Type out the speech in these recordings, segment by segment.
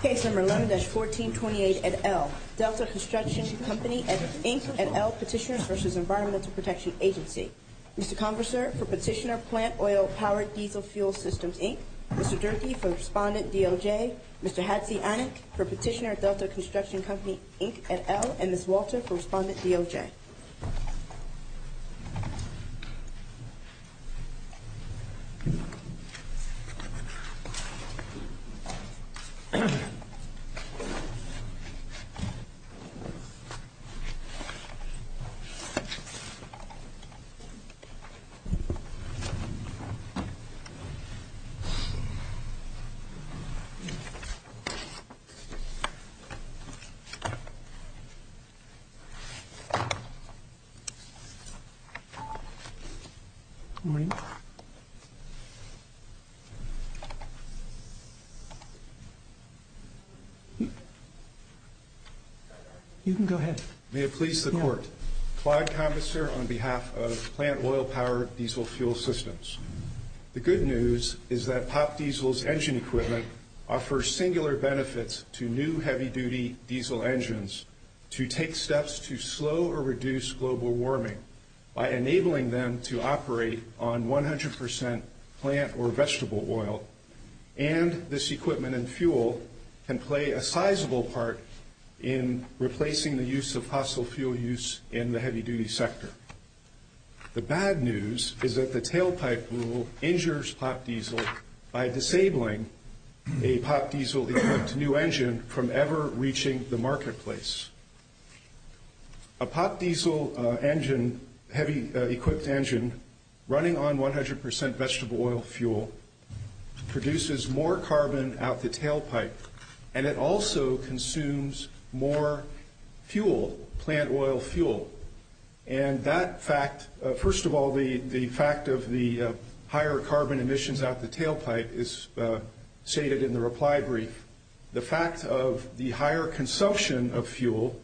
Case number 11-1428 at L. Delta Construction Company, Inc. at L. Petitioners v. Environmental Protection Agency. Mr. Congressor, for Petitioner, Plant Oil Powered Diesel Fuel Systems, Inc. Mr. Durkee, for Respondent, DOJ. Mr. Hatzianek, for Petitioner, Delta Construction Company, Inc. at L. And Ms. Walter, for Respondent, DOJ. Thank you. Thank you. Thank you. Good morning. You can go ahead. May it please the Court. Clyde Congressor on behalf of Plant Oil Powered Diesel Fuel Systems. The good news is that Pop Diesel's engine equipment offers singular benefits to new heavy-duty diesel engines to take steps to slow or reduce global warming by enabling them to operate on 100 percent plant or vegetable oil. And this equipment and fuel can play a sizable part in replacing the use of fossil fuel use in the heavy-duty sector. The bad news is that the tailpipe rule injures Pop Diesel by disabling a Pop Diesel-equipped new engine from ever reaching the marketplace. A Pop Diesel engine, heavy-equipped engine, running on 100 percent vegetable oil fuel produces more carbon out the tailpipe, and it also consumes more fuel, plant oil fuel. And that fact, first of all, the fact of the higher carbon emissions out the tailpipe is stated in the reply brief. The fact of the higher consumption of fuel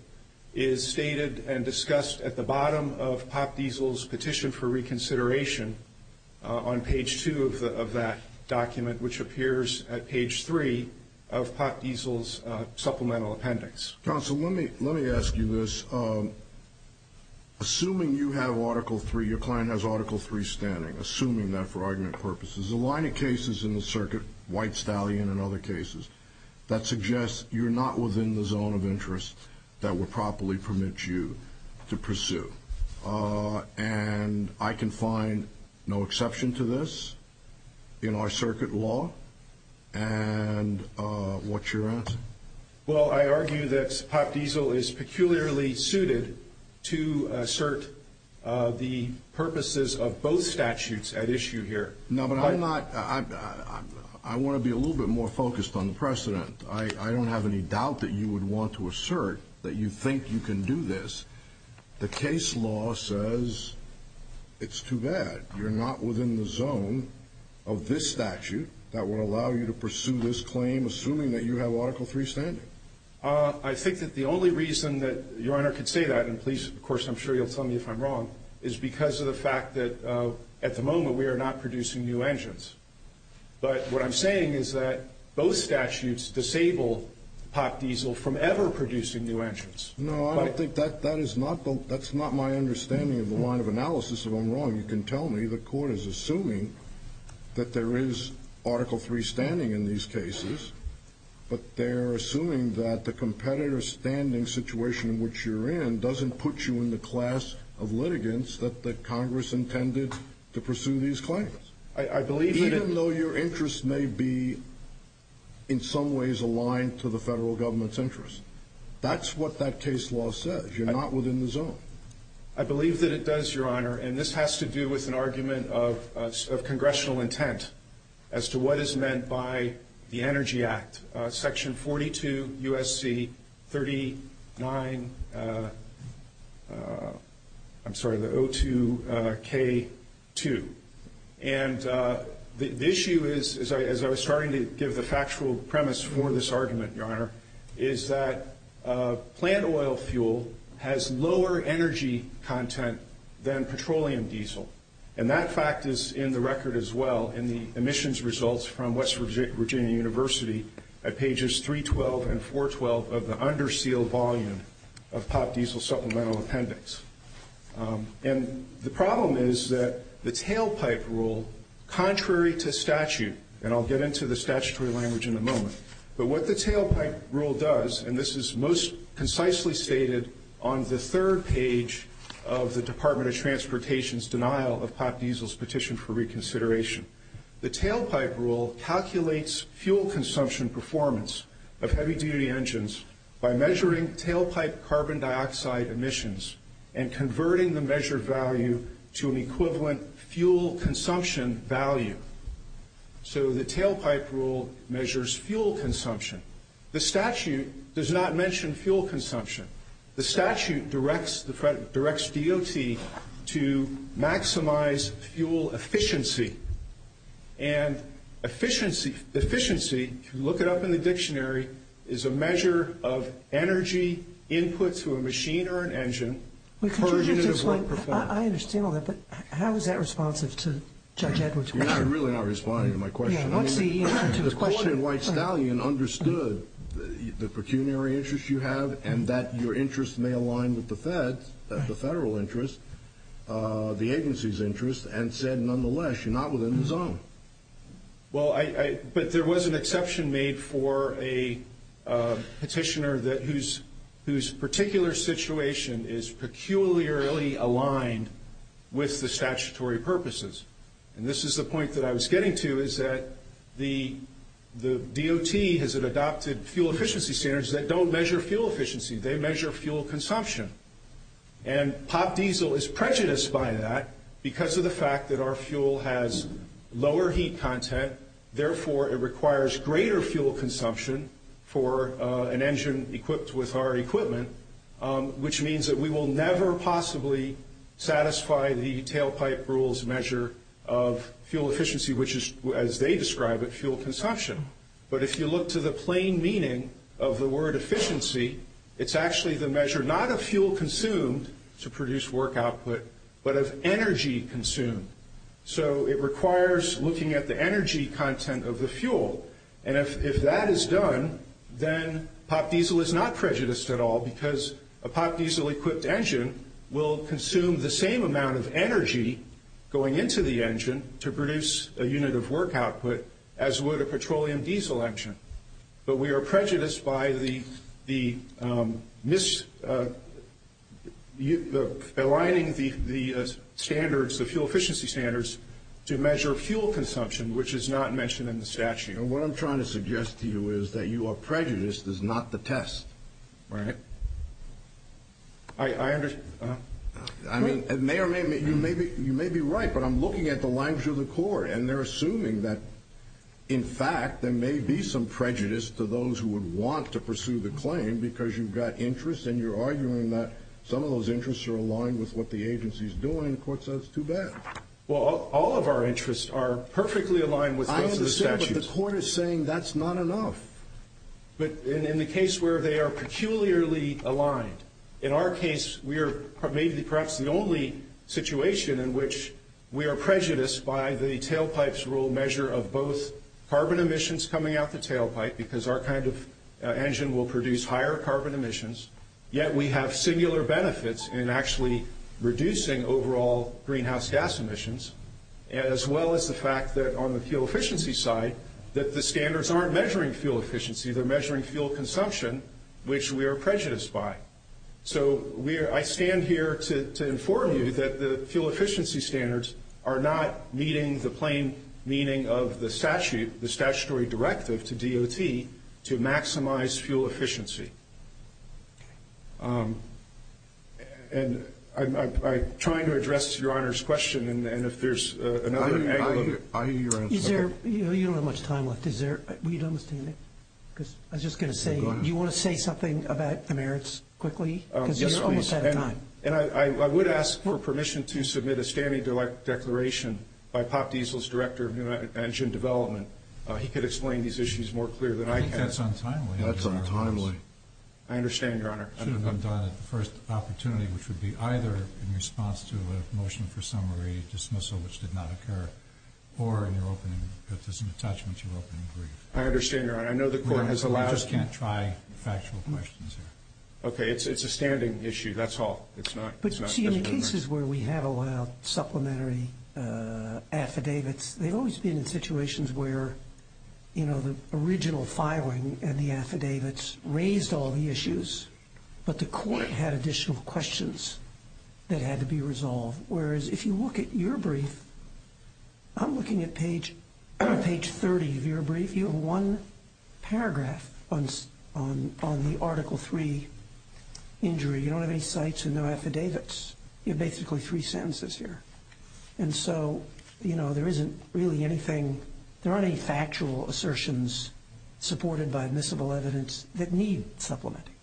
is stated and discussed at the bottom of Pop Diesel's petition for reconsideration on page 2 of that document, which appears at page 3 of Pop Diesel's supplemental appendix. Counsel, let me ask you this. Assuming you have Article 3, your client has Article 3 standing, assuming that for argument purposes, the line of cases in the circuit, White Stallion and other cases, that suggests you're not within the zone of interest that would properly permit you to pursue. And I can find no exception to this in our circuit law? And what's your answer? Well, I argue that Pop Diesel is peculiarly suited to assert the purposes of both statutes at issue here. No, but I'm not. I want to be a little bit more focused on the precedent. I don't have any doubt that you would want to assert that you think you can do this. The case law says it's too bad you're not within the zone of this statute that would allow you to pursue this claim, assuming that you have Article 3 standing. I think that the only reason that Your Honor could say that, and please, of course, I'm sure you'll tell me if I'm wrong, is because of the fact that at the moment we are not producing new engines. But what I'm saying is that both statutes disable Pop Diesel from ever producing new engines. No, I don't think that is not my understanding of the line of analysis. If I'm wrong, you can tell me. The Court is assuming that there is Article 3 standing in these cases, but they're assuming that the competitor standing situation in which you're in doesn't put you in the class of litigants that Congress intended to pursue these claims. Even though your interests may be, in some ways, aligned to the federal government's interests. That's what that case law says. You're not within the zone. I believe that it does, Your Honor, and this has to do with an argument of congressional intent as to what is meant by the Energy Act, Section 42 U.S.C. 39, I'm sorry, the O2K2. And the issue is, as I was starting to give the factual premise for this argument, Your Honor, is that plant oil fuel has lower energy content than petroleum diesel. And that fact is in the record as well in the emissions results from West Virginia University at pages 312 and 412 of the undersealed volume of Pop Diesel supplemental appendix. And the problem is that the tailpipe rule, contrary to statute, and I'll get into the statutory language in a moment, but what the tailpipe rule does, and this is most concisely stated on the third page of the Department of Transportation's denial of Pop Diesel's petition for reconsideration, the tailpipe rule calculates fuel consumption performance of heavy-duty engines by measuring tailpipe carbon dioxide emissions and converting the measured value to an equivalent fuel consumption value. So the tailpipe rule measures fuel consumption. The statute does not mention fuel consumption. The statute directs DOT to maximize fuel efficiency. And efficiency, if you look it up in the dictionary, is a measure of energy input to a machine or an engine per unit of work performed. I understand all that, but how is that responsive to Judge Edwards' question? You're really not responding to my question. What's the answer to his question? The court in White-Stallion understood the pecuniary interests you have and that your interests may align with the federal interest, the agency's interest, and said, nonetheless, you're not within the zone. But there was an exception made for a petitioner whose particular situation is peculiarly aligned with the statutory purposes. And this is the point that I was getting to, is that the DOT has adopted fuel efficiency standards that don't measure fuel efficiency. They measure fuel consumption. And Pop Diesel is prejudiced by that because of the fact that our fuel has lower heat content. Therefore, it requires greater fuel consumption for an engine equipped with our equipment, which means that we will never possibly satisfy the tailpipe rule's measure of fuel efficiency, which is, as they describe it, fuel consumption. But if you look to the plain meaning of the word efficiency, it's actually the measure not of fuel consumed to produce work output, but of energy consumed. So it requires looking at the energy content of the fuel. And if that is done, then Pop Diesel is not prejudiced at all because a Pop Diesel-equipped engine will consume the same amount of energy going into the engine to produce a unit of work output as would a petroleum diesel engine. But we are prejudiced by the mis-aligning the standards, the fuel efficiency standards, to measure fuel consumption, which is not mentioned in the statute. And what I'm trying to suggest to you is that you are prejudiced is not the test, right? I understand. I mean, you may be right, but I'm looking at the language of the court, and they're assuming that, in fact, there may be some prejudice to those who would want to pursue the claim because you've got interests and you're arguing that some of those interests are aligned with what the agency's doing. The court says it's too bad. Well, all of our interests are perfectly aligned with those of the statute. I understand, but the court is saying that's not enough. In our case, we are maybe perhaps the only situation in which we are prejudiced by the tailpipe's rule measure of both carbon emissions coming out the tailpipe, because our kind of engine will produce higher carbon emissions, yet we have singular benefits in actually reducing overall greenhouse gas emissions, as well as the fact that, on the fuel efficiency side, that the standards aren't measuring fuel efficiency. They're measuring fuel consumption, which we are prejudiced by. So I stand here to inform you that the fuel efficiency standards are not meeting the plain meaning of the statutory directive to DOT to maximize fuel efficiency. And I'm trying to address Your Honor's question, and if there's another angle of view. I hear your answer. You don't have much time left. Were you done with standing? Because I was just going to say, do you want to say something about the merits quickly? Yes, please. Because you're almost out of time. And I would ask for permission to submit a standing declaration by Pop Diesel's director of new engine development. He could explain these issues more clearly than I can. I think that's untimely. That's untimely. I understand, Your Honor. It should have been done at the first opportunity, which would be either in response to a motion for summary dismissal, which did not occur, or in your opening, if there's an attachment to your opening brief. I understand, Your Honor. I know the court has allowed. We just can't try factual questions here. Okay. It's a standing issue. That's all. It's not. But, you see, in the cases where we have allowed supplementary affidavits, they've always been in situations where, you know, the original filing and the affidavits raised all the issues, but the court had additional questions that had to be resolved. Whereas, if you look at your brief, I'm looking at page 30 of your brief. You have one paragraph on the Article III injury. You don't have any cites and no affidavits. You have basically three sentences here. And so, you know, there isn't really anything. There aren't any factual assertions supported by admissible evidence that need supplementing.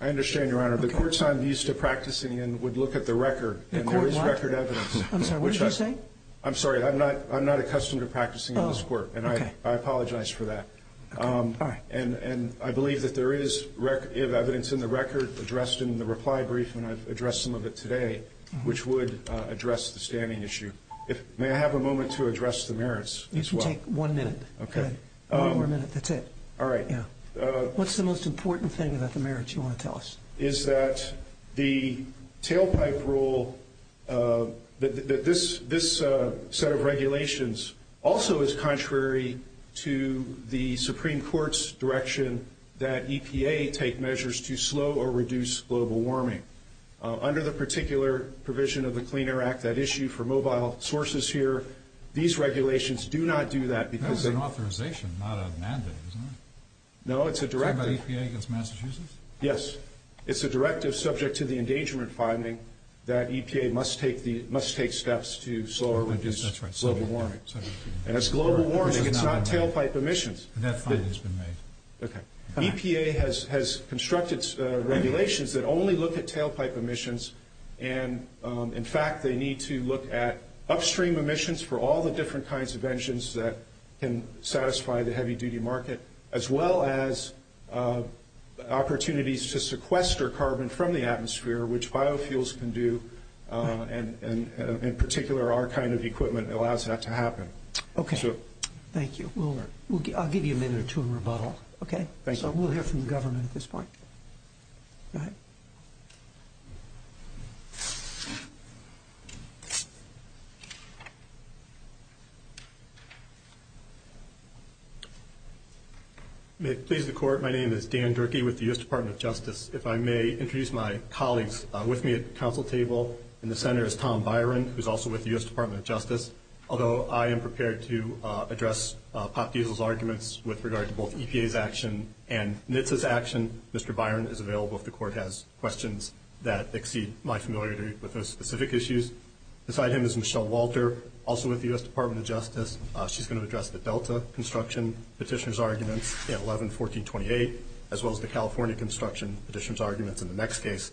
I understand, Your Honor. The court's not used to practicing and would look at the record. And there is record evidence. I'm sorry. What did you say? I'm sorry. I'm not accustomed to practicing in this court. Oh, okay. And I apologize for that. Okay. All right. And I believe that there is evidence in the record addressed in the reply brief, and I've addressed some of it today, which would address the standing issue. May I have a moment to address the merits as well? You can take one minute. Okay. One more minute. That's it. All right. Yeah. What's the most important thing about the merits you want to tell us? The most important thing is that the tailpipe rule, this set of regulations, also is contrary to the Supreme Court's direction that EPA take measures to slow or reduce global warming. Under the particular provision of the Clean Air Act, that issue for mobile sources here, these regulations do not do that. That's an authorization, not a mandate, isn't it? No, it's a direct rule. Is that about EPA against Massachusetts? Yes. It's a directive subject to the engagement finding that EPA must take steps to slow or reduce global warming. And it's global warming. It's not tailpipe emissions. And that finding has been made. Okay. EPA has constructed regulations that only look at tailpipe emissions, and, in fact, they need to look at upstream emissions for all the different kinds of engines that can satisfy the heavy-duty market, as well as opportunities to sequester carbon from the atmosphere, which biofuels can do, and, in particular, our kind of equipment allows that to happen. Okay. Thank you. I'll give you a minute or two to rebuttal. Okay? Thank you. So we'll hear from the government at this point. Go ahead. May it please the Court, my name is Dan Durkee with the U.S. Department of Justice. If I may introduce my colleagues with me at the council table. In the center is Tom Byron, who is also with the U.S. Department of Justice. Although I am prepared to address Pop Diesel's arguments with regard to both EPA's action and NHTSA's action, Mr. Byron is available if the Court has questions that exceed my familiarity with those specific issues. Beside him is Michelle Walter, also with the U.S. Department of Justice. She's going to address the Delta construction petitioner's arguments at 11-1428, as well as the California construction petitioner's arguments in the next case,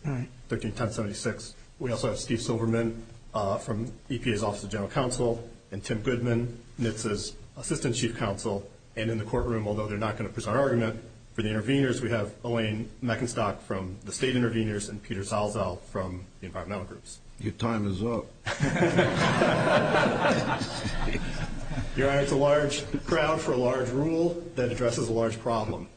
13-1076. We also have Steve Silverman from EPA's Office of General Counsel and Tim Goodman, NHTSA's Assistant Chief Counsel. And in the courtroom, although they're not going to present an argument, for the interveners, we have Elaine Meckenstock from the state interveners and Peter Salzau from the environmental groups. Your time is up. Your Honor, it's a large crowd for a large rule that addresses a large problem.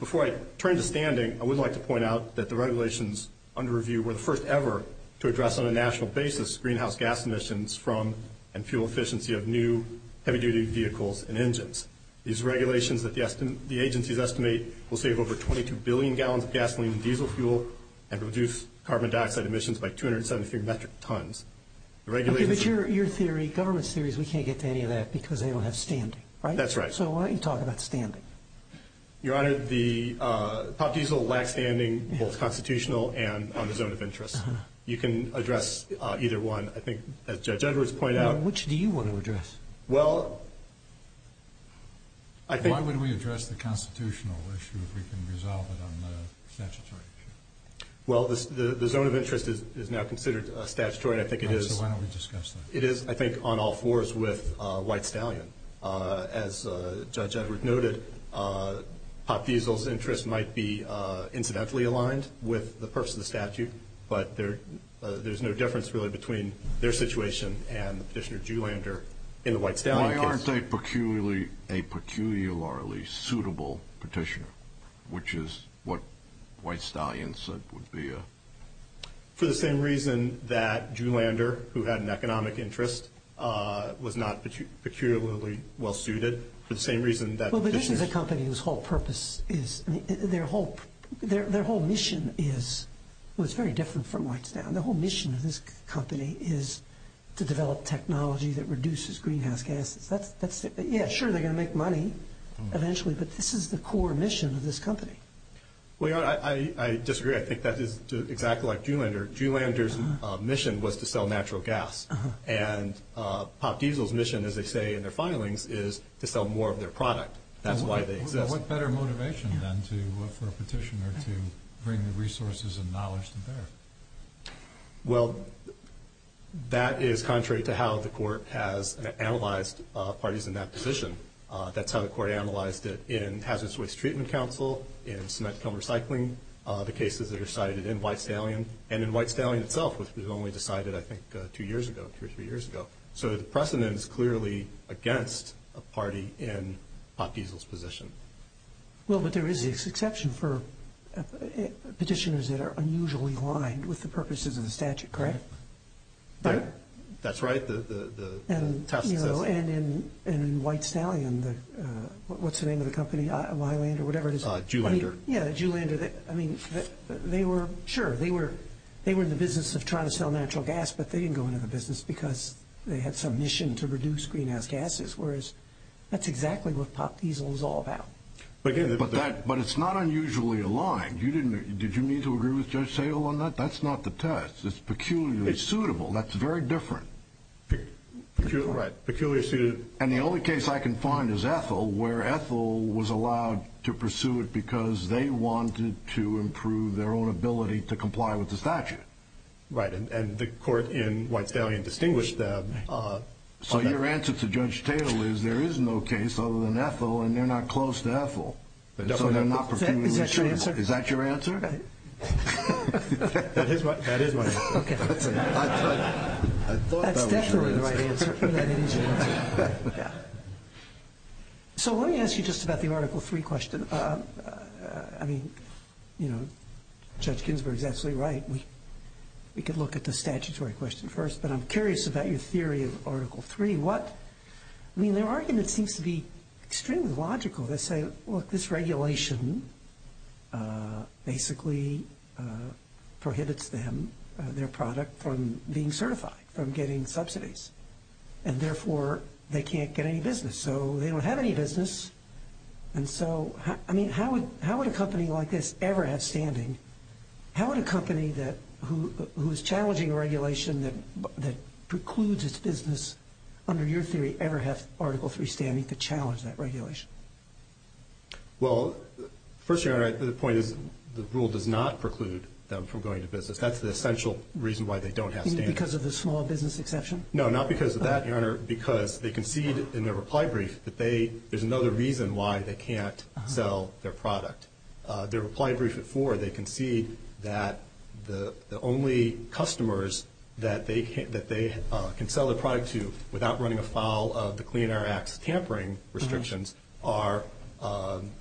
Before I turn to standing, I would like to point out that the regulations under review were the first ever to address on a national basis greenhouse gas emissions from and fuel efficiency of new heavy-duty vehicles and engines. These regulations that the agencies estimate will save over 22 billion gallons of gasoline and diesel fuel and reduce carbon dioxide emissions by 273 metric tons. Okay, but your theory, government's theory is we can't get to any of that because they don't have standing, right? That's right. So why don't you talk about standing? Your Honor, the top diesel lacks standing, both constitutional and on the zone of interest. You can address either one. I think, as Judge Edwards pointed out. Which do you want to address? Well, I think. Why would we address the constitutional issue if we can resolve it on the statutory issue? Well, the zone of interest is now considered statutory, and I think it is. Okay, so why don't we discuss that? It is, I think, on all fours with White-Stallion. As Judge Edwards noted, top diesel's interest might be incidentally aligned with the purpose of the statute, but there's no difference really between their situation and Petitioner Juhlander in the White-Stallion case. Why aren't they a peculiarly suitable petitioner, which is what White-Stallion said would be a? For the same reason that Juhlander, who had an economic interest, was not peculiarly well-suited. For the same reason that Petitioner. Well, but this is a company whose whole purpose is, I mean, their whole mission is, well, it's very different from White-Stallion. The whole mission of this company is to develop technology that reduces greenhouse gases. Yeah, sure, they're going to make money eventually, but this is the core mission of this company. Well, I disagree. I think that is exactly like Juhlander. Juhlander's mission was to sell natural gas, and top diesel's mission, as they say in their filings, is to sell more of their product. That's why they exist. What better motivation, then, for a petitioner to bring the resources and knowledge to bear? Well, that is contrary to how the court has analyzed parties in that position. That's how the court analyzed it in Hazardous Waste Treatment Council, in Cement Kiln Recycling, the cases that are cited in White-Stallion, and in White-Stallion itself, which was only decided, I think, two years ago, two or three years ago. So the precedent is clearly against a party in top diesel's position. Well, but there is this exception for petitioners that are unusually aligned with the purposes of the statute, correct? That's right. And in White-Stallion, what's the name of the company? Juhlander. Yeah, Juhlander. I mean, sure, they were in the business of trying to sell natural gas, but they didn't go into the business because they had some mission to reduce greenhouse gases, whereas that's exactly what top diesel is all about. But it's not unusually aligned. Did you mean to agree with Judge Sayle on that? That's not the test. It's peculiarly suitable. That's very different. Right, peculiarly suited. And the only case I can find is Ethel, where Ethel was allowed to pursue it because they wanted to improve their own ability to comply with the statute. Right, and the court in White-Stallion distinguished that. So your answer to Judge Sayle is there is no case other than Ethel, and they're not close to Ethel. So they're not peculiarly suitable. Is that your answer? That is my answer. Okay. I thought that was your answer. That's definitely the right answer. So let me ask you just about the Article III question. I mean, you know, Judge Ginsburg is absolutely right. We could look at the statutory question first, but I'm curious about your theory of Article III. I mean, their argument seems to be extremely logical. They say, look, this regulation basically prohibits them, their product, from being certified, from getting subsidies, and therefore they can't get any business. So they don't have any business. And so, I mean, how would a company like this ever have standing? How would a company who is challenging a regulation that precludes its business, under your theory, ever have Article III standing to challenge that regulation? Well, first, Your Honor, the point is the rule does not preclude them from going into business. That's the essential reason why they don't have standing. Because of the small business exception? No, not because of that, Your Honor. Because they concede in their reply brief that there's another reason why they can't sell their product. Their reply brief at four, they concede that the only customers that they can sell their product to without running afoul of the Clean Air Act's tampering restrictions are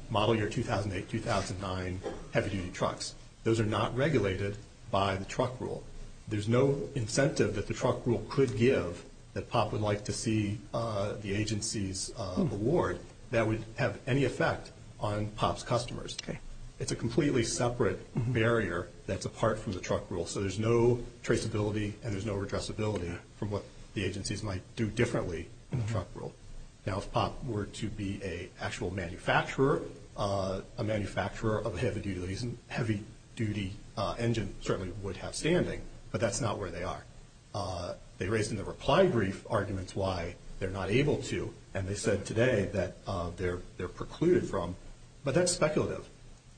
model year 2008-2009 heavy-duty trucks. Those are not regulated by the truck rule. There's no incentive that the truck rule could give that POP would like to see the agencies award that would have any effect on POP's customers. Okay. It's a completely separate barrier that's apart from the truck rule, so there's no traceability and there's no addressability from what the agencies might do differently in the truck rule. Now, if POP were to be an actual manufacturer, a manufacturer of heavy-duty engines certainly would have standing, but that's not where they are. They raised in their reply brief arguments why they're not able to, and they said today that they're precluded from. But that's speculative.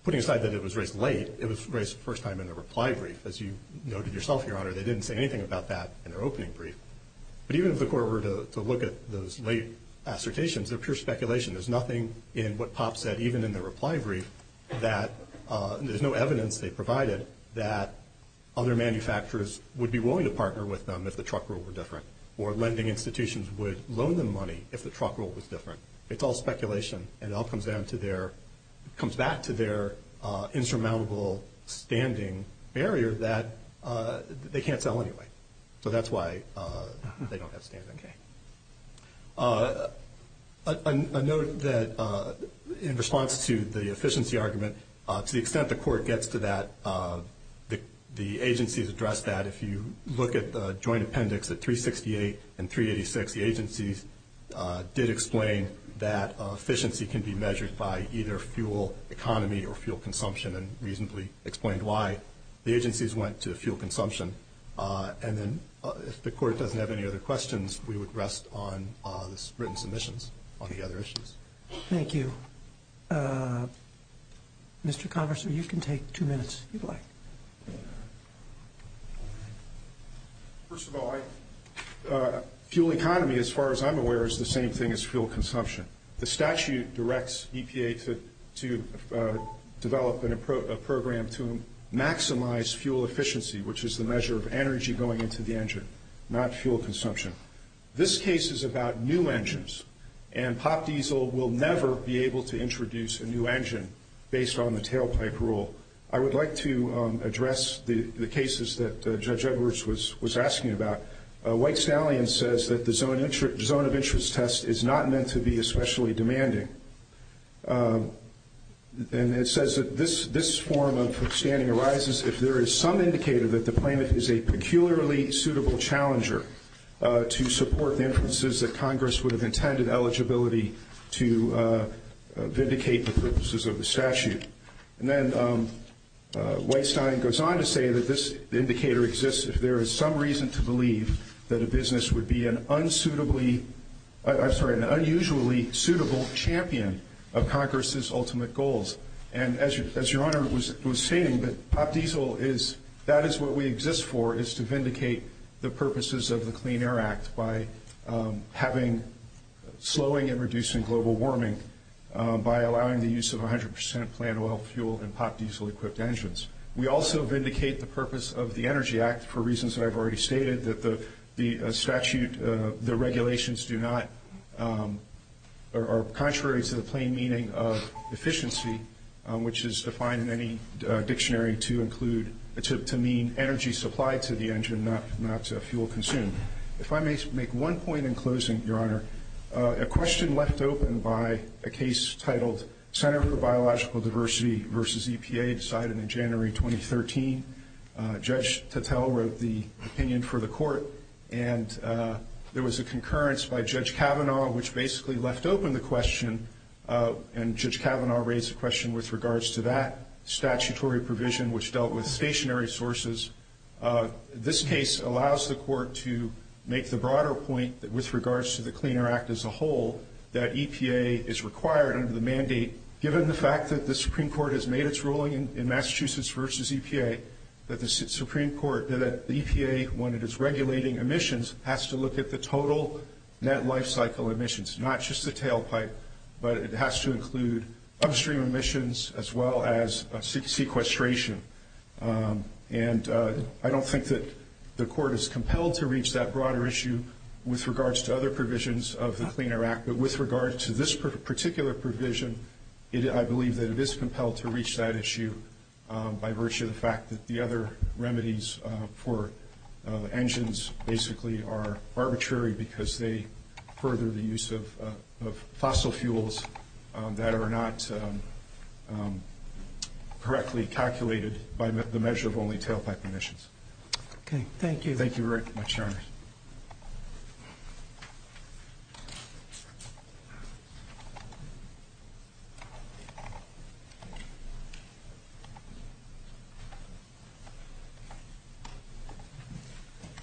Putting aside that it was raised late, it was raised the first time in their reply brief. As you noted yourself, Your Honor, they didn't say anything about that in their opening brief. But even if the Court were to look at those late assertations, they're pure speculation. There's nothing in what POP said even in their reply brief that there's no evidence they provided that other manufacturers would be willing to partner with them if the truck rule were different or lending institutions would loan them money if the truck rule was different. It's all speculation, and it all comes back to their insurmountable standing barrier that they can't sell anyway. So that's why they don't have standing. Okay. I note that in response to the efficiency argument, to the extent the Court gets to that, the agencies addressed that. If you look at the joint appendix at 368 and 386, the agencies did explain that efficiency can be measured by either fuel economy or fuel consumption and reasonably explained why the agencies went to fuel consumption. And then if the Court doesn't have any other questions, we would rest on the written submissions on the other issues. Thank you. Mr. Congressman, you can take two minutes if you'd like. First of all, fuel economy, as far as I'm aware, is the same thing as fuel consumption. The statute directs EPA to develop a program to maximize fuel efficiency, which is the measure of energy going into the engine, not fuel consumption. This case is about new engines, and Pop Diesel will never be able to introduce a new engine based on the tailpipe rule. I would like to address the cases that Judge Edwards was asking about. White-Stallion says that the zone of interest test is not meant to be especially demanding, and it says that this form of standing arises if there is some indicator that the claimant is a peculiarly suitable challenger to support the inferences that Congress would have intended eligibility to vindicate the purposes of the statute. And then White-Stallion goes on to say that this indicator exists if there is some reason to believe that a business would be an unusually suitable champion of Congress's ultimate goals. And as Your Honor was stating, that is what we exist for, is to vindicate the purposes of the Clean Air Act by slowing and reducing global warming by allowing the use of 100% plant oil, fuel, and Pop Diesel-equipped engines. We also vindicate the purpose of the Energy Act for reasons that I've already stated, that the regulations are contrary to the plain meaning of efficiency, which is defined in any dictionary to mean energy supplied to the engine, not fuel consumed. If I may make one point in closing, Your Honor, a question left open by a case titled Center for Biological Diversity versus EPA decided in January 2013. Judge Tattel wrote the opinion for the court, and there was a concurrence by Judge Kavanaugh, which basically left open the question, and Judge Kavanaugh raised the question with regards to that statutory provision, which dealt with stationary sources. This case allows the court to make the broader point with regards to the Clean Air Act as a whole, that EPA is required under the mandate, given the fact that the Supreme Court has made its ruling in Massachusetts versus EPA, that the EPA, when it is regulating emissions, has to look at the total net life cycle emissions, not just the tailpipe, but it has to include upstream emissions as well as sequestration. And I don't think that the court is compelled to reach that broader issue with regards to other provisions of the Clean Air Act, but with regards to this particular provision, I believe that it is compelled to reach that issue by virtue of the fact that the other remedies for engines basically are arbitrary because they further the use of fossil fuels that are not correctly calculated by the measure of only tailpipe emissions. Okay. Thank you. Thank you very much, Your Honor.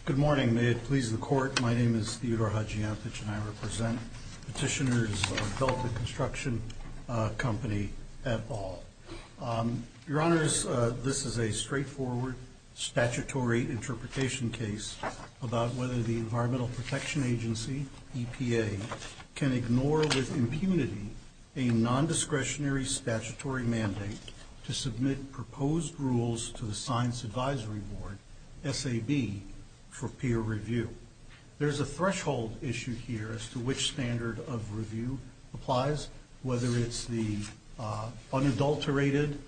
Good morning. May it please the court. My name is Theodore Hadjiantich, and I represent petitioners of Delta Construction Company at all. Your Honors, this is a straightforward statutory interpretation case about whether the Environmental Protection Agency, EPA, can ignore with impunity a nondiscretionary statutory mandate to submit proposed rules to the Science Advisory Board, SAB, for peer review. There is a threshold issue here as to which standard of review applies, whether it's the unadulterated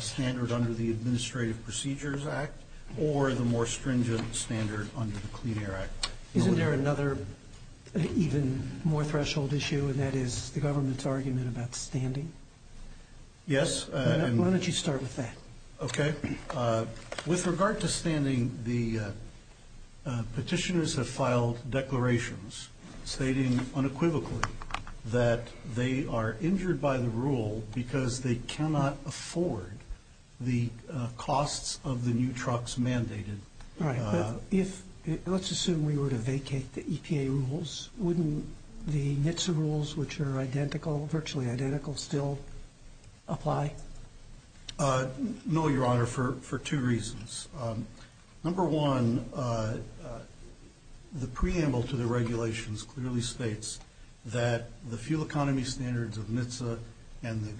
standard under the Administrative Procedures Act or the more stringent standard under the Clean Air Act. Isn't there another, even more threshold issue, and that is the government's argument about standing? Yes. Why don't you start with that? Okay. With regard to standing, the petitioners have filed declarations stating unequivocally that they are injured by the rule because they cannot afford the costs of the new trucks mandated. All right. But let's assume we were to vacate the EPA rules. Wouldn't the NHTSA rules, which are identical, virtually identical, still apply? No, Your Honor, for two reasons. Number one, the preamble to the regulations clearly states that the fuel economy standards of NHTSA and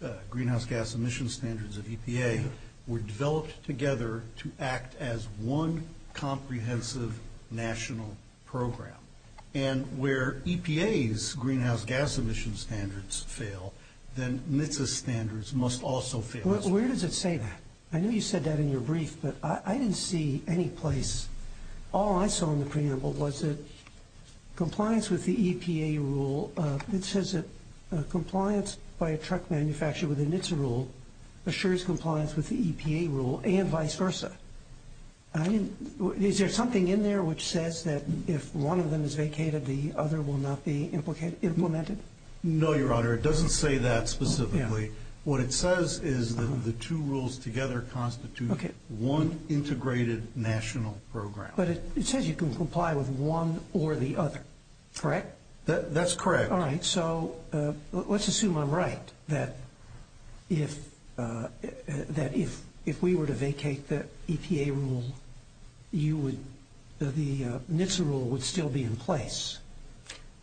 the greenhouse gas emission standards of EPA were developed together to act as one comprehensive national program. And where EPA's greenhouse gas emission standards fail, then NHTSA's standards must also fail. Where does it say that? I know you said that in your brief, but I didn't see any place. All I saw in the preamble was that compliance with the EPA rule, it says that compliance by a truck manufacturer within its rule assures compliance with the EPA rule and vice versa. Is there something in there which says that if one of them is vacated, the other will not be implemented? No, Your Honor, it doesn't say that specifically. What it says is that the two rules together constitute one integrated national program. But it says you can comply with one or the other, correct? That's correct. All right. So let's assume I'm right, that if we were to vacate the EPA rule, the NHTSA rule would still be in place.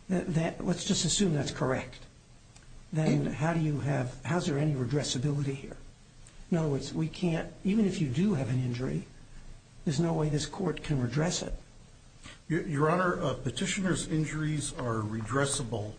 Let's just assume that's correct. Then how do you have, how's there any redressability here? In other words, we can't, even if you do have an injury, there's no way this court can redress it. Your Honor, petitioner's injuries are redressable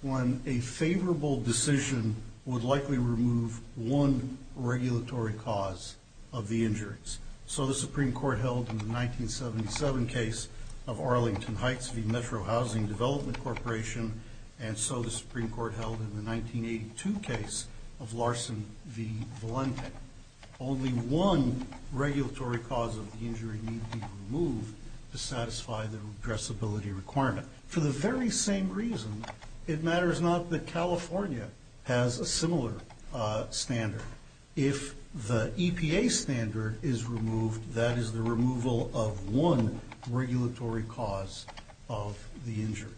when a favorable decision would likely remove one regulatory cause of the injuries. So the Supreme Court held in the 1977 case of Arlington Heights v. Metro Housing Development Corporation, and so the Supreme Court held in the 1982 case of Larson v. Valente. Only one regulatory cause of the injury needs to be removed to satisfy the redressability requirement. For the very same reason, it matters not that California has a similar standard. If the EPA standard is removed, that is the removal of one regulatory cause of the injuries.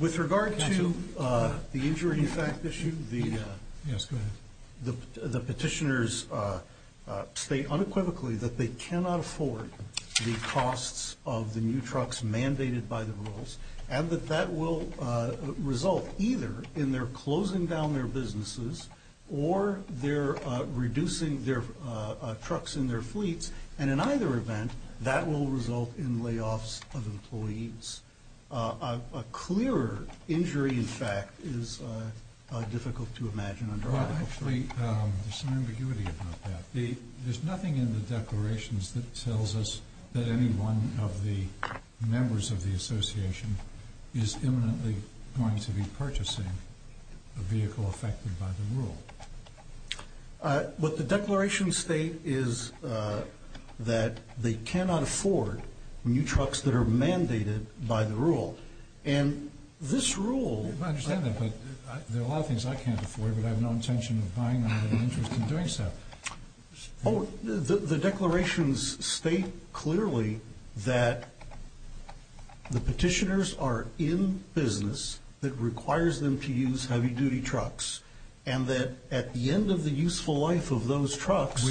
With regard to the injury fact issue, the petitioners state unequivocally that they cannot afford the costs of the new trucks mandated by the rules, and that that will result either in their closing down their businesses or their reducing their trucks in their fleets, and in either event, that will result in layoffs of employees. A clearer injury in fact is difficult to imagine under article three. Well actually, there's some ambiguity about that. There's nothing in the declarations that tells us that any one of the members of the association is imminently going to be purchasing a vehicle affected by the rule. What the declarations state is that they cannot afford new trucks that are mandated by the rule, and this rule- There are a lot of things I can't afford, but I have no intention of buying them in the interest of doing so. Oh, the declarations state clearly that the petitioners are in business that requires them to use heavy-duty trucks, and that at the end of the useful life of those trucks-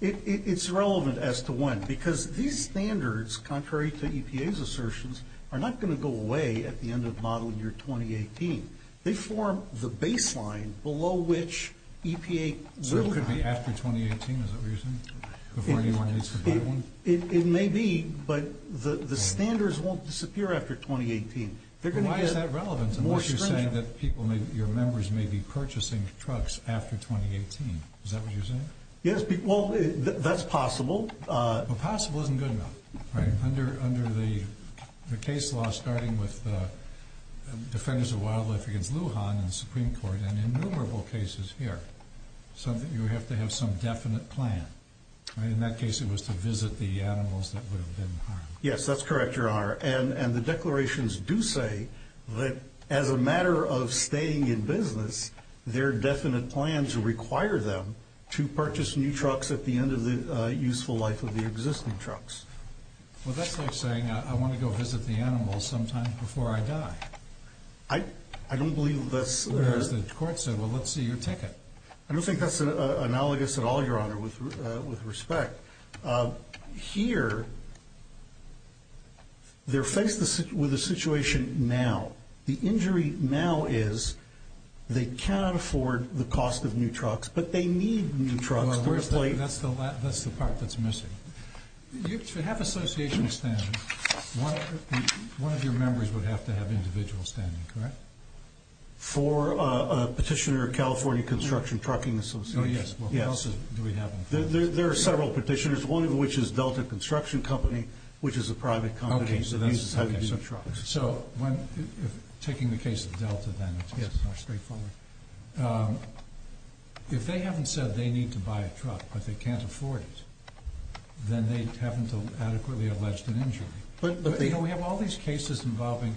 It's relevant as to when, because these standards, contrary to EPA's assertions, are not going to go away at the end of model year 2018. They form the baseline below which EPA will- So it could be after 2018, is that what you're saying? Before anyone needs to buy one? It may be, but the standards won't disappear after 2018. Why is that relevant unless you're saying that your members may be purchasing trucks after 2018? Is that what you're saying? Yes, well, that's possible. Well, possible isn't good enough. Under the case law starting with the Defenders of Wildlife against Lujan in the Supreme Court, and innumerable cases here, you have to have some definite plan. In that case, it was to visit the animals that would have been harmed. Yes, that's correct, Your Honor, and the declarations do say that as a matter of staying in business, their definite plans require them to purchase new trucks at the end of the useful life of the existing trucks. Well, that's like saying, I want to go visit the animals sometime before I die. I don't believe that's- Whereas the court said, well, let's see your ticket. I don't think that's analogous at all, Your Honor, with respect. Here, they're faced with a situation now. The injury now is they cannot afford the cost of new trucks, but they need new trucks. That's the part that's missing. To have association standing, one of your members would have to have individual standing, correct? For a petitioner, California Construction Trucking Association. Oh, yes. Yes. What else do we have? There are several petitioners, one of which is Delta Construction Company, which is a private company that uses heavy-duty trucks. Taking the case of Delta then, it's much more straightforward. If they haven't said they need to buy a truck, but they can't afford it, then they haven't adequately alleged an injury. But- We have all these cases involving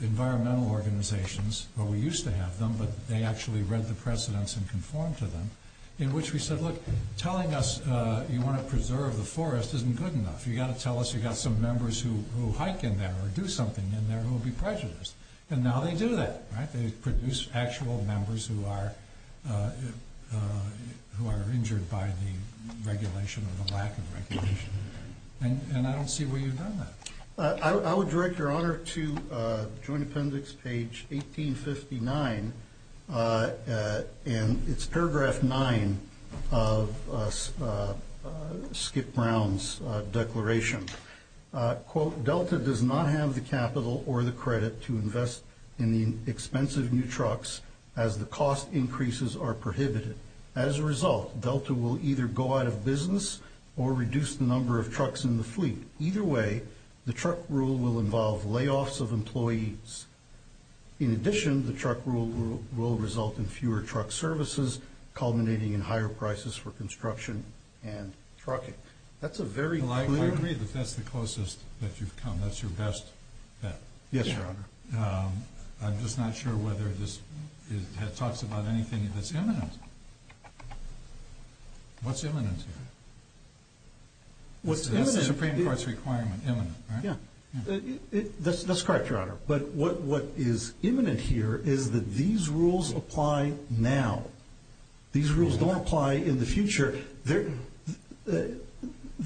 environmental organizations, where we used to have them, but they actually read the precedents and conformed to them, in which we said, look, telling us you want to preserve the forest isn't good enough. You've got to tell us you've got some members who hike in there or do something in there who will be prejudiced. Now they do that. They produce actual members who are injured by the regulation or the lack of regulation. I don't see where you've done that. I would direct your honor to Joint Appendix page 1859, and it's paragraph nine of Skip Brown's declaration. Quote, Delta does not have the capital or the credit to invest in the expensive new trucks as the cost increases are prohibited. As a result, Delta will either go out of business or reduce the number of trucks in the fleet. Either way, the truck rule will involve layoffs of employees. In addition, the truck rule will result in fewer truck services, culminating in higher prices for construction and trucking. That's a very- I agree that that's the closest that you've come. That's your best bet. Yes, your honor. I'm just not sure whether this talks about anything that's imminent. What's imminent here? That's the Supreme Court's requirement, imminent, right? Yeah, that's correct, your honor. But what is imminent here is that these rules apply now. These rules don't apply in the future. The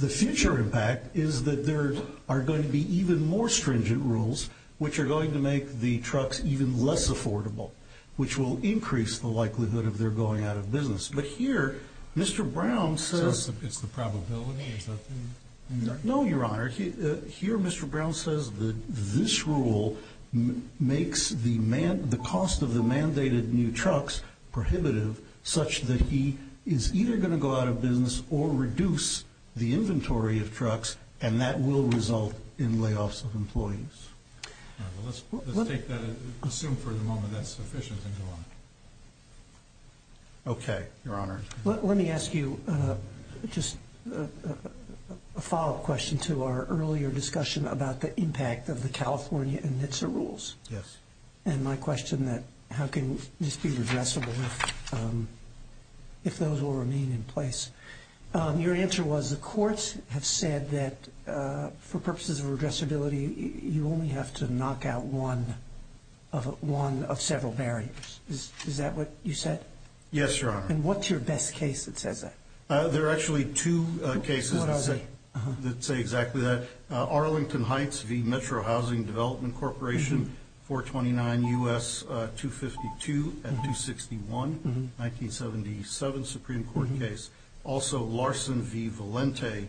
future impact is that there are going to be even more stringent rules which are going to make the trucks even less affordable, which will increase the likelihood of their going out of business. But here, Mr. Brown says- So it's the probability? Is that the- No, your honor. Here, Mr. Brown says that this rule makes the cost of the mandated new trucks prohibitive, such that he is either going to go out of business or reduce the inventory of trucks, and that will result in layoffs of employees. Let's take that and assume for the moment that's sufficient and go on. Okay, your honor. Let me ask you just a follow-up question to our earlier discussion about the impact of the California NHTSA rules. Yes. And my question, how can this be redressable if those will remain in place? Your answer was the courts have said that for purposes of redressability, you only have to knock out one of several barriers. Is that what you said? Yes, your honor. And what's your best case that says that? There are actually two cases that say exactly that. Arlington Heights v. Metro Housing Development Corporation, 429 U.S. 252 at 261, 1977 Supreme Court case. Also, Larson v. Valente,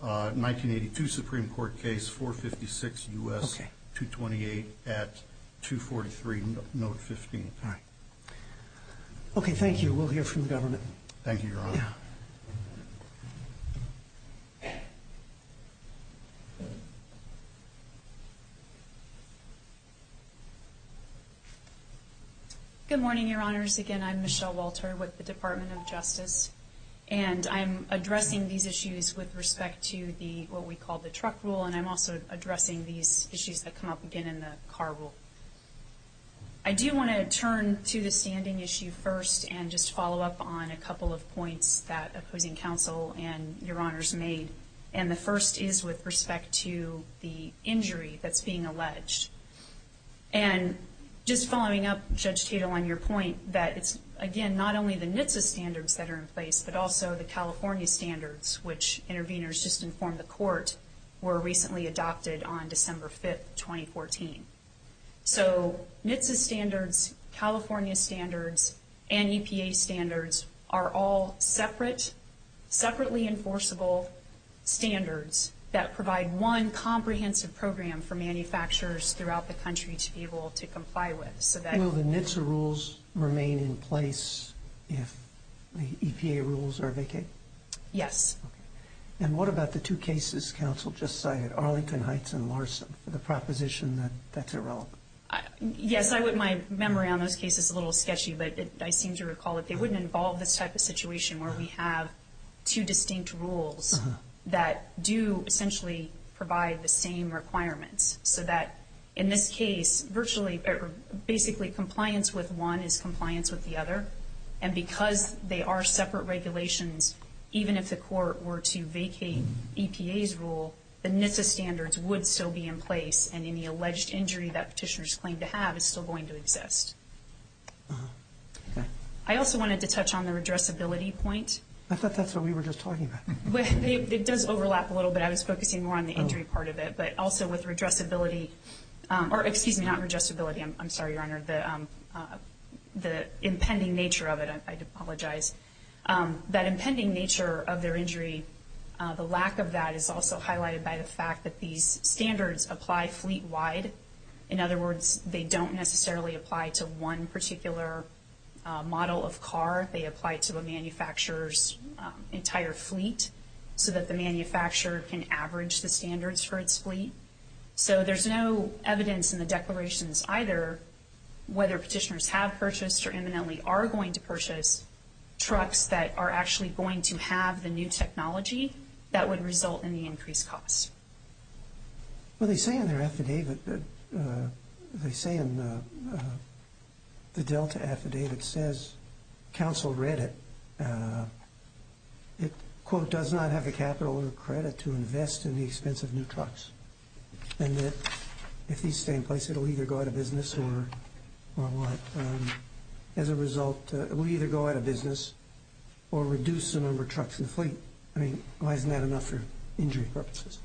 1982 Supreme Court case, 456 U.S. 228 at 243, note 15. All right. Okay, thank you. We'll hear from the government. Thank you, your honor. Thank you. Good morning, your honors. Again, I'm Michelle Walter with the Department of Justice. And I'm addressing these issues with respect to what we call the truck rule, and I'm also addressing these issues that come up again in the car rule. I do want to turn to the standing issue first and just follow up on a couple of points that opposing counsel and your honors made. And the first is with respect to the injury that's being alleged. And just following up, Judge Tatel, on your point that it's, again, not only the NHTSA standards that are in place, but also the California standards, which interveners just informed the court, were recently adopted on December 5th, 2014. So NHTSA standards, California standards, and EPA standards are all separate, separately enforceable standards that provide one comprehensive program for manufacturers throughout the country to be able to comply with. Will the NHTSA rules remain in place if the EPA rules are vacated? Yes. Okay. And what about the two cases counsel just cited, Arlington Heights and Larson, for the proposition that that's irrelevant? Yes, my memory on those cases is a little sketchy, but I seem to recall that they wouldn't involve this type of situation where we have two distinct rules that do essentially provide the same requirements. So that in this case, basically compliance with one is compliance with the other. And because they are separate regulations, even if the court were to vacate EPA's rule, the NHTSA standards would still be in place, and any alleged injury that petitioners claim to have is still going to exist. I also wanted to touch on the redressability point. I thought that's what we were just talking about. It does overlap a little bit. I was focusing more on the injury part of it. But also with redressability, or excuse me, not redressability, I'm sorry, Your Honor, the impending nature of it, I apologize, that impending nature of their injury, the lack of that is also highlighted by the fact that these standards apply fleet-wide. In other words, they don't necessarily apply to one particular model of car. They apply to a manufacturer's entire fleet so that the manufacturer can average the standards for its fleet. So there's no evidence in the declarations either whether petitioners have purchased or imminently are going to purchase trucks that are actually going to have the new technology that would result in the increased costs. Well, they say in their affidavit, they say in the Delta affidavit, it says, counsel read it, it, quote, does not have the capital or credit to invest in the expense of new trucks. And that if these stay in place, it will either go out of business or what? As a result, it will either go out of business or reduce the number of trucks in the fleet. I mean, why isn't that enough for injury purposes?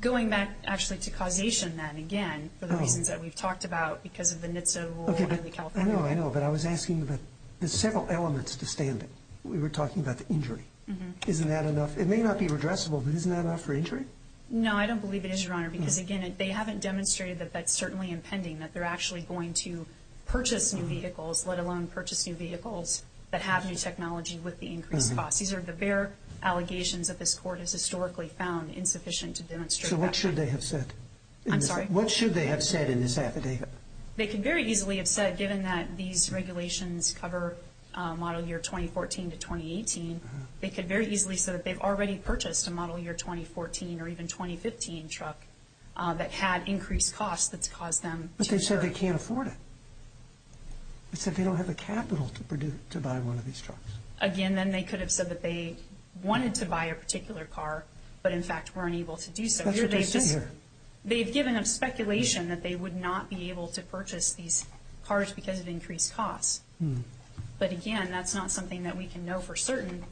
Going back actually to causation, then, again, for the reasons that we've talked about because of the NHTSA rule in California. I know, I know, but I was asking that there's several elements to standing. We were talking about the injury. Isn't that enough? It may not be redressable, but isn't that enough for injury? No, I don't believe it is, Your Honor, because, again, they haven't demonstrated that that's certainly impending, that they're actually going to purchase new vehicles, let alone purchase new vehicles that have new technology with the increased costs. These are the bare allegations that this Court has historically found insufficient to demonstrate that. So what should they have said? I'm sorry? What should they have said in this affidavit? They could very easily have said, given that these regulations cover model year 2014 to 2018, they could very easily have said that they've already purchased a model year 2014 or even 2015 truck that had increased costs that's caused them to incur. But they said they can't afford it. They said they don't have the capital to buy one of these trucks. Again, then they could have said that they wanted to buy a particular car, but, in fact, weren't able to do so. That's what they're saying here. They've given up speculation that they would not be able to purchase these cars because of increased costs. But, again, that's not something that we can know for certain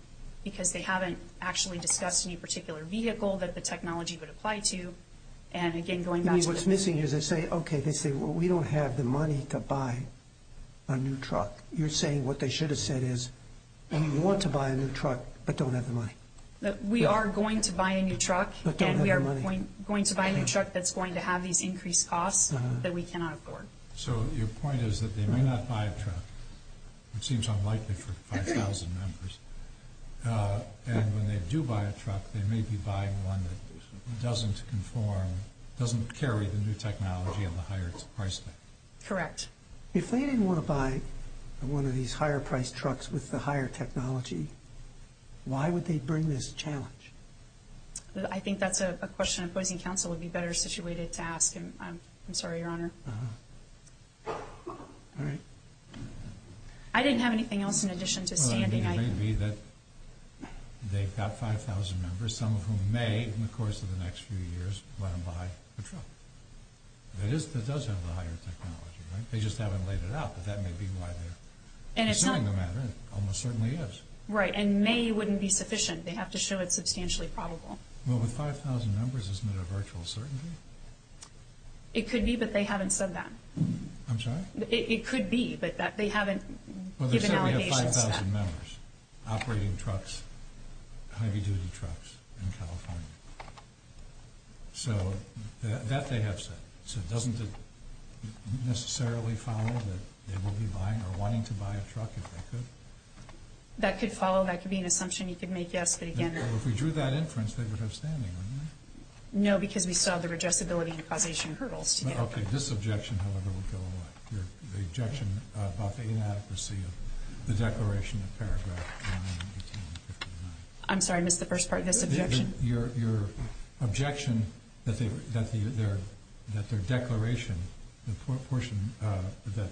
because they haven't actually discussed any particular vehicle that the technology would apply to. And, again, going back to the— You mean what's missing is they say, okay, they say, well, we don't have the money to buy a new truck. You're saying what they should have said is, we want to buy a new truck, but don't have the money. We are going to buy a new truck. But don't have the money. And we are going to buy a new truck that's going to have these increased costs that we cannot afford. So your point is that they may not buy a truck, which seems unlikely for 5,000 members. And when they do buy a truck, they may be buying one that doesn't conform, doesn't carry the new technology and the higher its price tag. Correct. If they didn't want to buy one of these higher-priced trucks with the higher technology, why would they bring this challenge? I think that's a question opposing counsel would be better situated to ask. And I'm sorry, Your Honor. All right. I didn't have anything else in addition to standing— Well, I mean, it may be that they've got 5,000 members, some of whom may, in the course of the next few years, let them buy a truck. That does have the higher technology, right? They just haven't laid it out, but that may be why they're assuming the matter. It almost certainly is. Right. And may wouldn't be sufficient. They have to show it's substantially probable. Well, with 5,000 members, isn't it a virtual certainty? It could be, but they haven't said that. I'm sorry? It could be, but they haven't given allegations to that. Well, they certainly have 5,000 members operating trucks, heavy-duty trucks in California. So that they have said. So doesn't it necessarily follow that they will be buying or wanting to buy a truck if they could? That could follow. That could be an assumption you could make, yes. But, again— If we drew that inference, they would have standing, wouldn't they? No, because we saw the digestibility and causation hurdles today. Okay. This objection, however, will go away. The objection about the inadequacy of the Declaration of Paragraphs in 1859. I'm sorry. I missed the first part of this objection. Your objection that their declaration, the portion that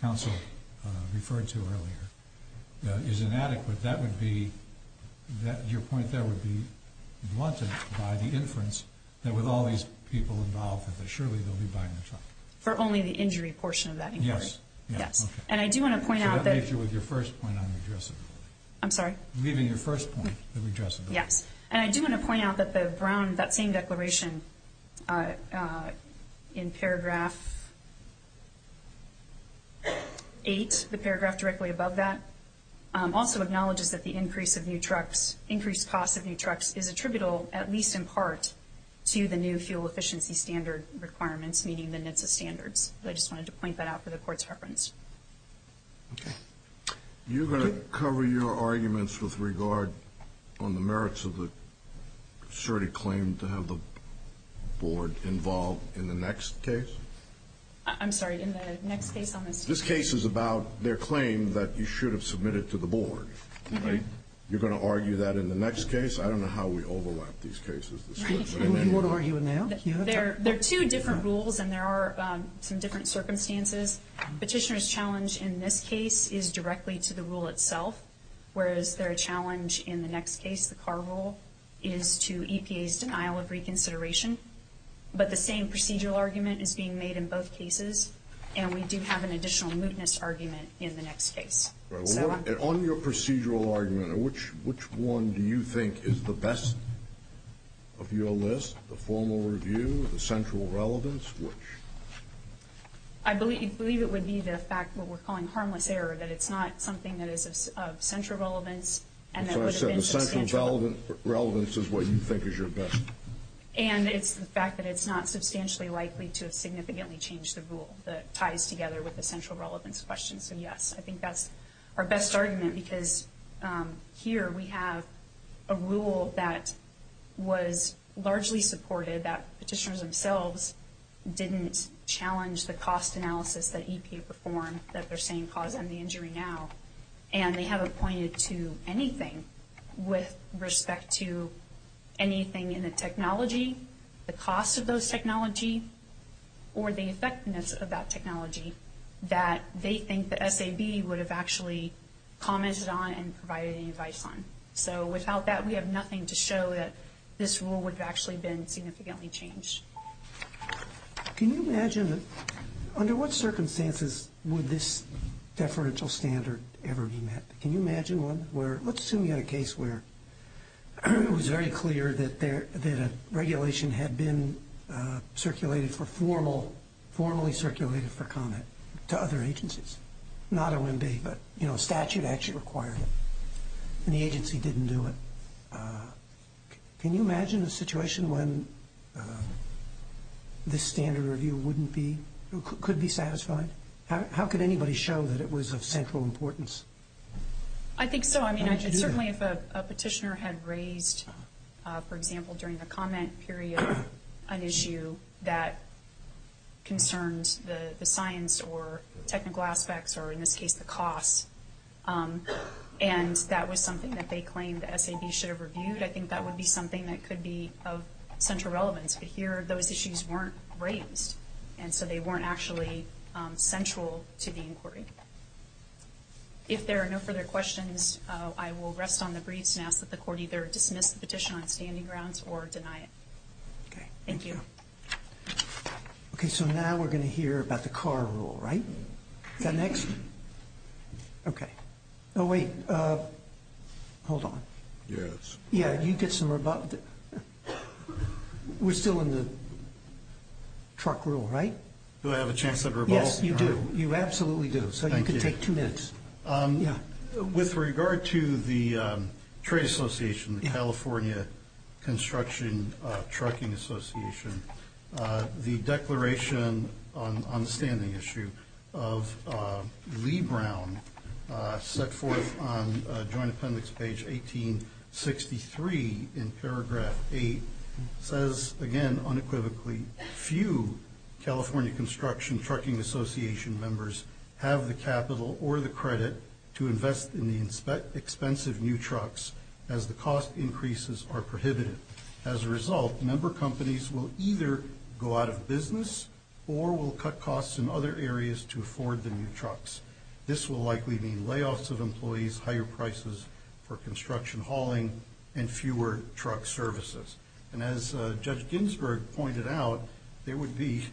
counsel referred to earlier, is inadequate. That would be—your point there would be blunted by the inference that with all these people involved, that surely they'll be buying a truck. For only the injury portion of that inquiry? Yes. Yes. And I do want to point out that— I should have made you with your first point on redressability. I'm sorry? Leaving your first point on redressability. Yes. And I do want to point out that the Brown—that same declaration in paragraph 8, the paragraph directly above that, also acknowledges that the increase of new trucks, increased cost of new trucks, is attributable, at least in part, to the new fuel efficiency standard requirements, meaning the NHTSA standards. I just wanted to point that out for the Court's reference. Okay. You're going to cover your arguments with regard on the merits of the asserted claim to have the Board involved in the next case? I'm sorry, in the next case on this— This case is about their claim that you should have submitted to the Board, right? You're going to argue that in the next case? I don't know how we overlap these cases. Right. You want to argue it now? There are two different rules, and there are some different circumstances. Petitioner's challenge in this case is directly to the rule itself, whereas their challenge in the next case, the Carr rule, is to EPA's denial of reconsideration. But the same procedural argument is being made in both cases, and we do have an additional mootness argument in the next case. On your procedural argument, which one do you think is the best of your list, the formal review, the central relevance, which? I believe it would be the fact what we're calling harmless error, that it's not something that is of central relevance, and that would have been substantial. That's what I said, the central relevance is what you think is your best. And it's the fact that it's not substantially likely to have significantly changed the rule that ties together with the central relevance question. So, yes, I think that's our best argument, because here we have a rule that was largely supported, that petitioners themselves didn't challenge the cost analysis that EPA performed, that they're saying caused them the injury now. And they haven't pointed to anything with respect to anything in the technology, the cost of those technology, or the effectiveness of that technology, that they think the SAB would have actually commented on and provided any advice on. So without that, we have nothing to show that this rule would have actually been significantly changed. Can you imagine, under what circumstances would this deferential standard ever be met? Can you imagine one where, let's assume you had a case where it was very clear that a regulation had been circulated for formal, formally circulated for comment to other agencies, not OMB, but, you know, a statute actually required it, and the agency didn't do it. Can you imagine a situation when this standard review wouldn't be, could be satisfied? How could anybody show that it was of central importance? I think so. I mean, certainly if a petitioner had raised, for example, during the comment period, an issue that concerns the science or technical aspects or, in this case, the cost, and that was something that they claimed the SAB should have reviewed, I think that would be something that could be of central relevance. But here, those issues weren't raised, and so they weren't actually central to the inquiry. If there are no further questions, I will rest on the briefs and ask that the court either dismiss the petition on its standing grounds or deny it. Okay. Thank you. Okay, so now we're going to hear about the car rule, right? Is that next? Okay. Oh, wait. Hold on. Yes. Yeah, you get some rebuttal. We're still in the truck rule, right? Do I have a chance to rebut? Yes, you do. You absolutely do. Thank you. So you can take two minutes. With regard to the trade association, the California Construction Trucking Association, the declaration on the standing issue of Lee Brown, set forth on joint appendix page 1863 in paragraph 8, says, again, unequivocally, few California Construction Trucking Association members have the capital or the credit to invest in the expensive new trucks as the cost increases are prohibited. As a result, member companies will either go out of business or will cut costs in other areas to afford the new trucks. This will likely mean layoffs of employees, higher prices for construction hauling, and fewer truck services. And as Judge Ginsburg pointed out, there would be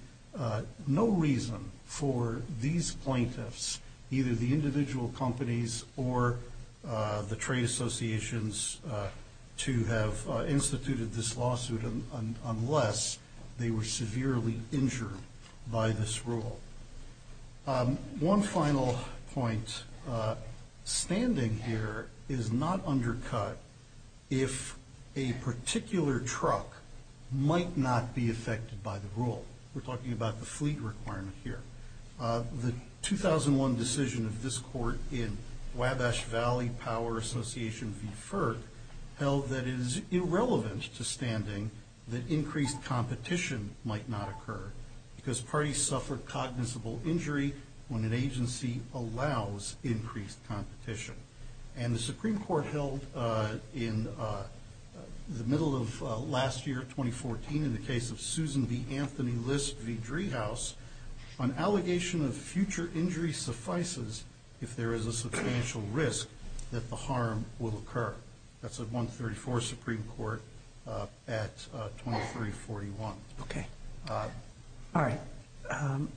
no reason for these plaintiffs, either the individual companies or the trade associations, to have instituted this lawsuit unless they were severely injured by this rule. One final point. Standing here is not undercut if a particular truck might not be affected by the rule. We're talking about the fleet requirement here. The 2001 decision of this court in Wabash Valley Power Association v. FERC held that it is irrelevant to standing that increased competition might not occur because parties suffer cognizable injury when an agency allows increased competition. And the Supreme Court held in the middle of last year, 2014, in the case of Susan v. Anthony List v. Driehaus, an allegation of future injury suffices if there is a substantial risk that the harm will occur. That's at 134 Supreme Court at 2341. Okay. All right.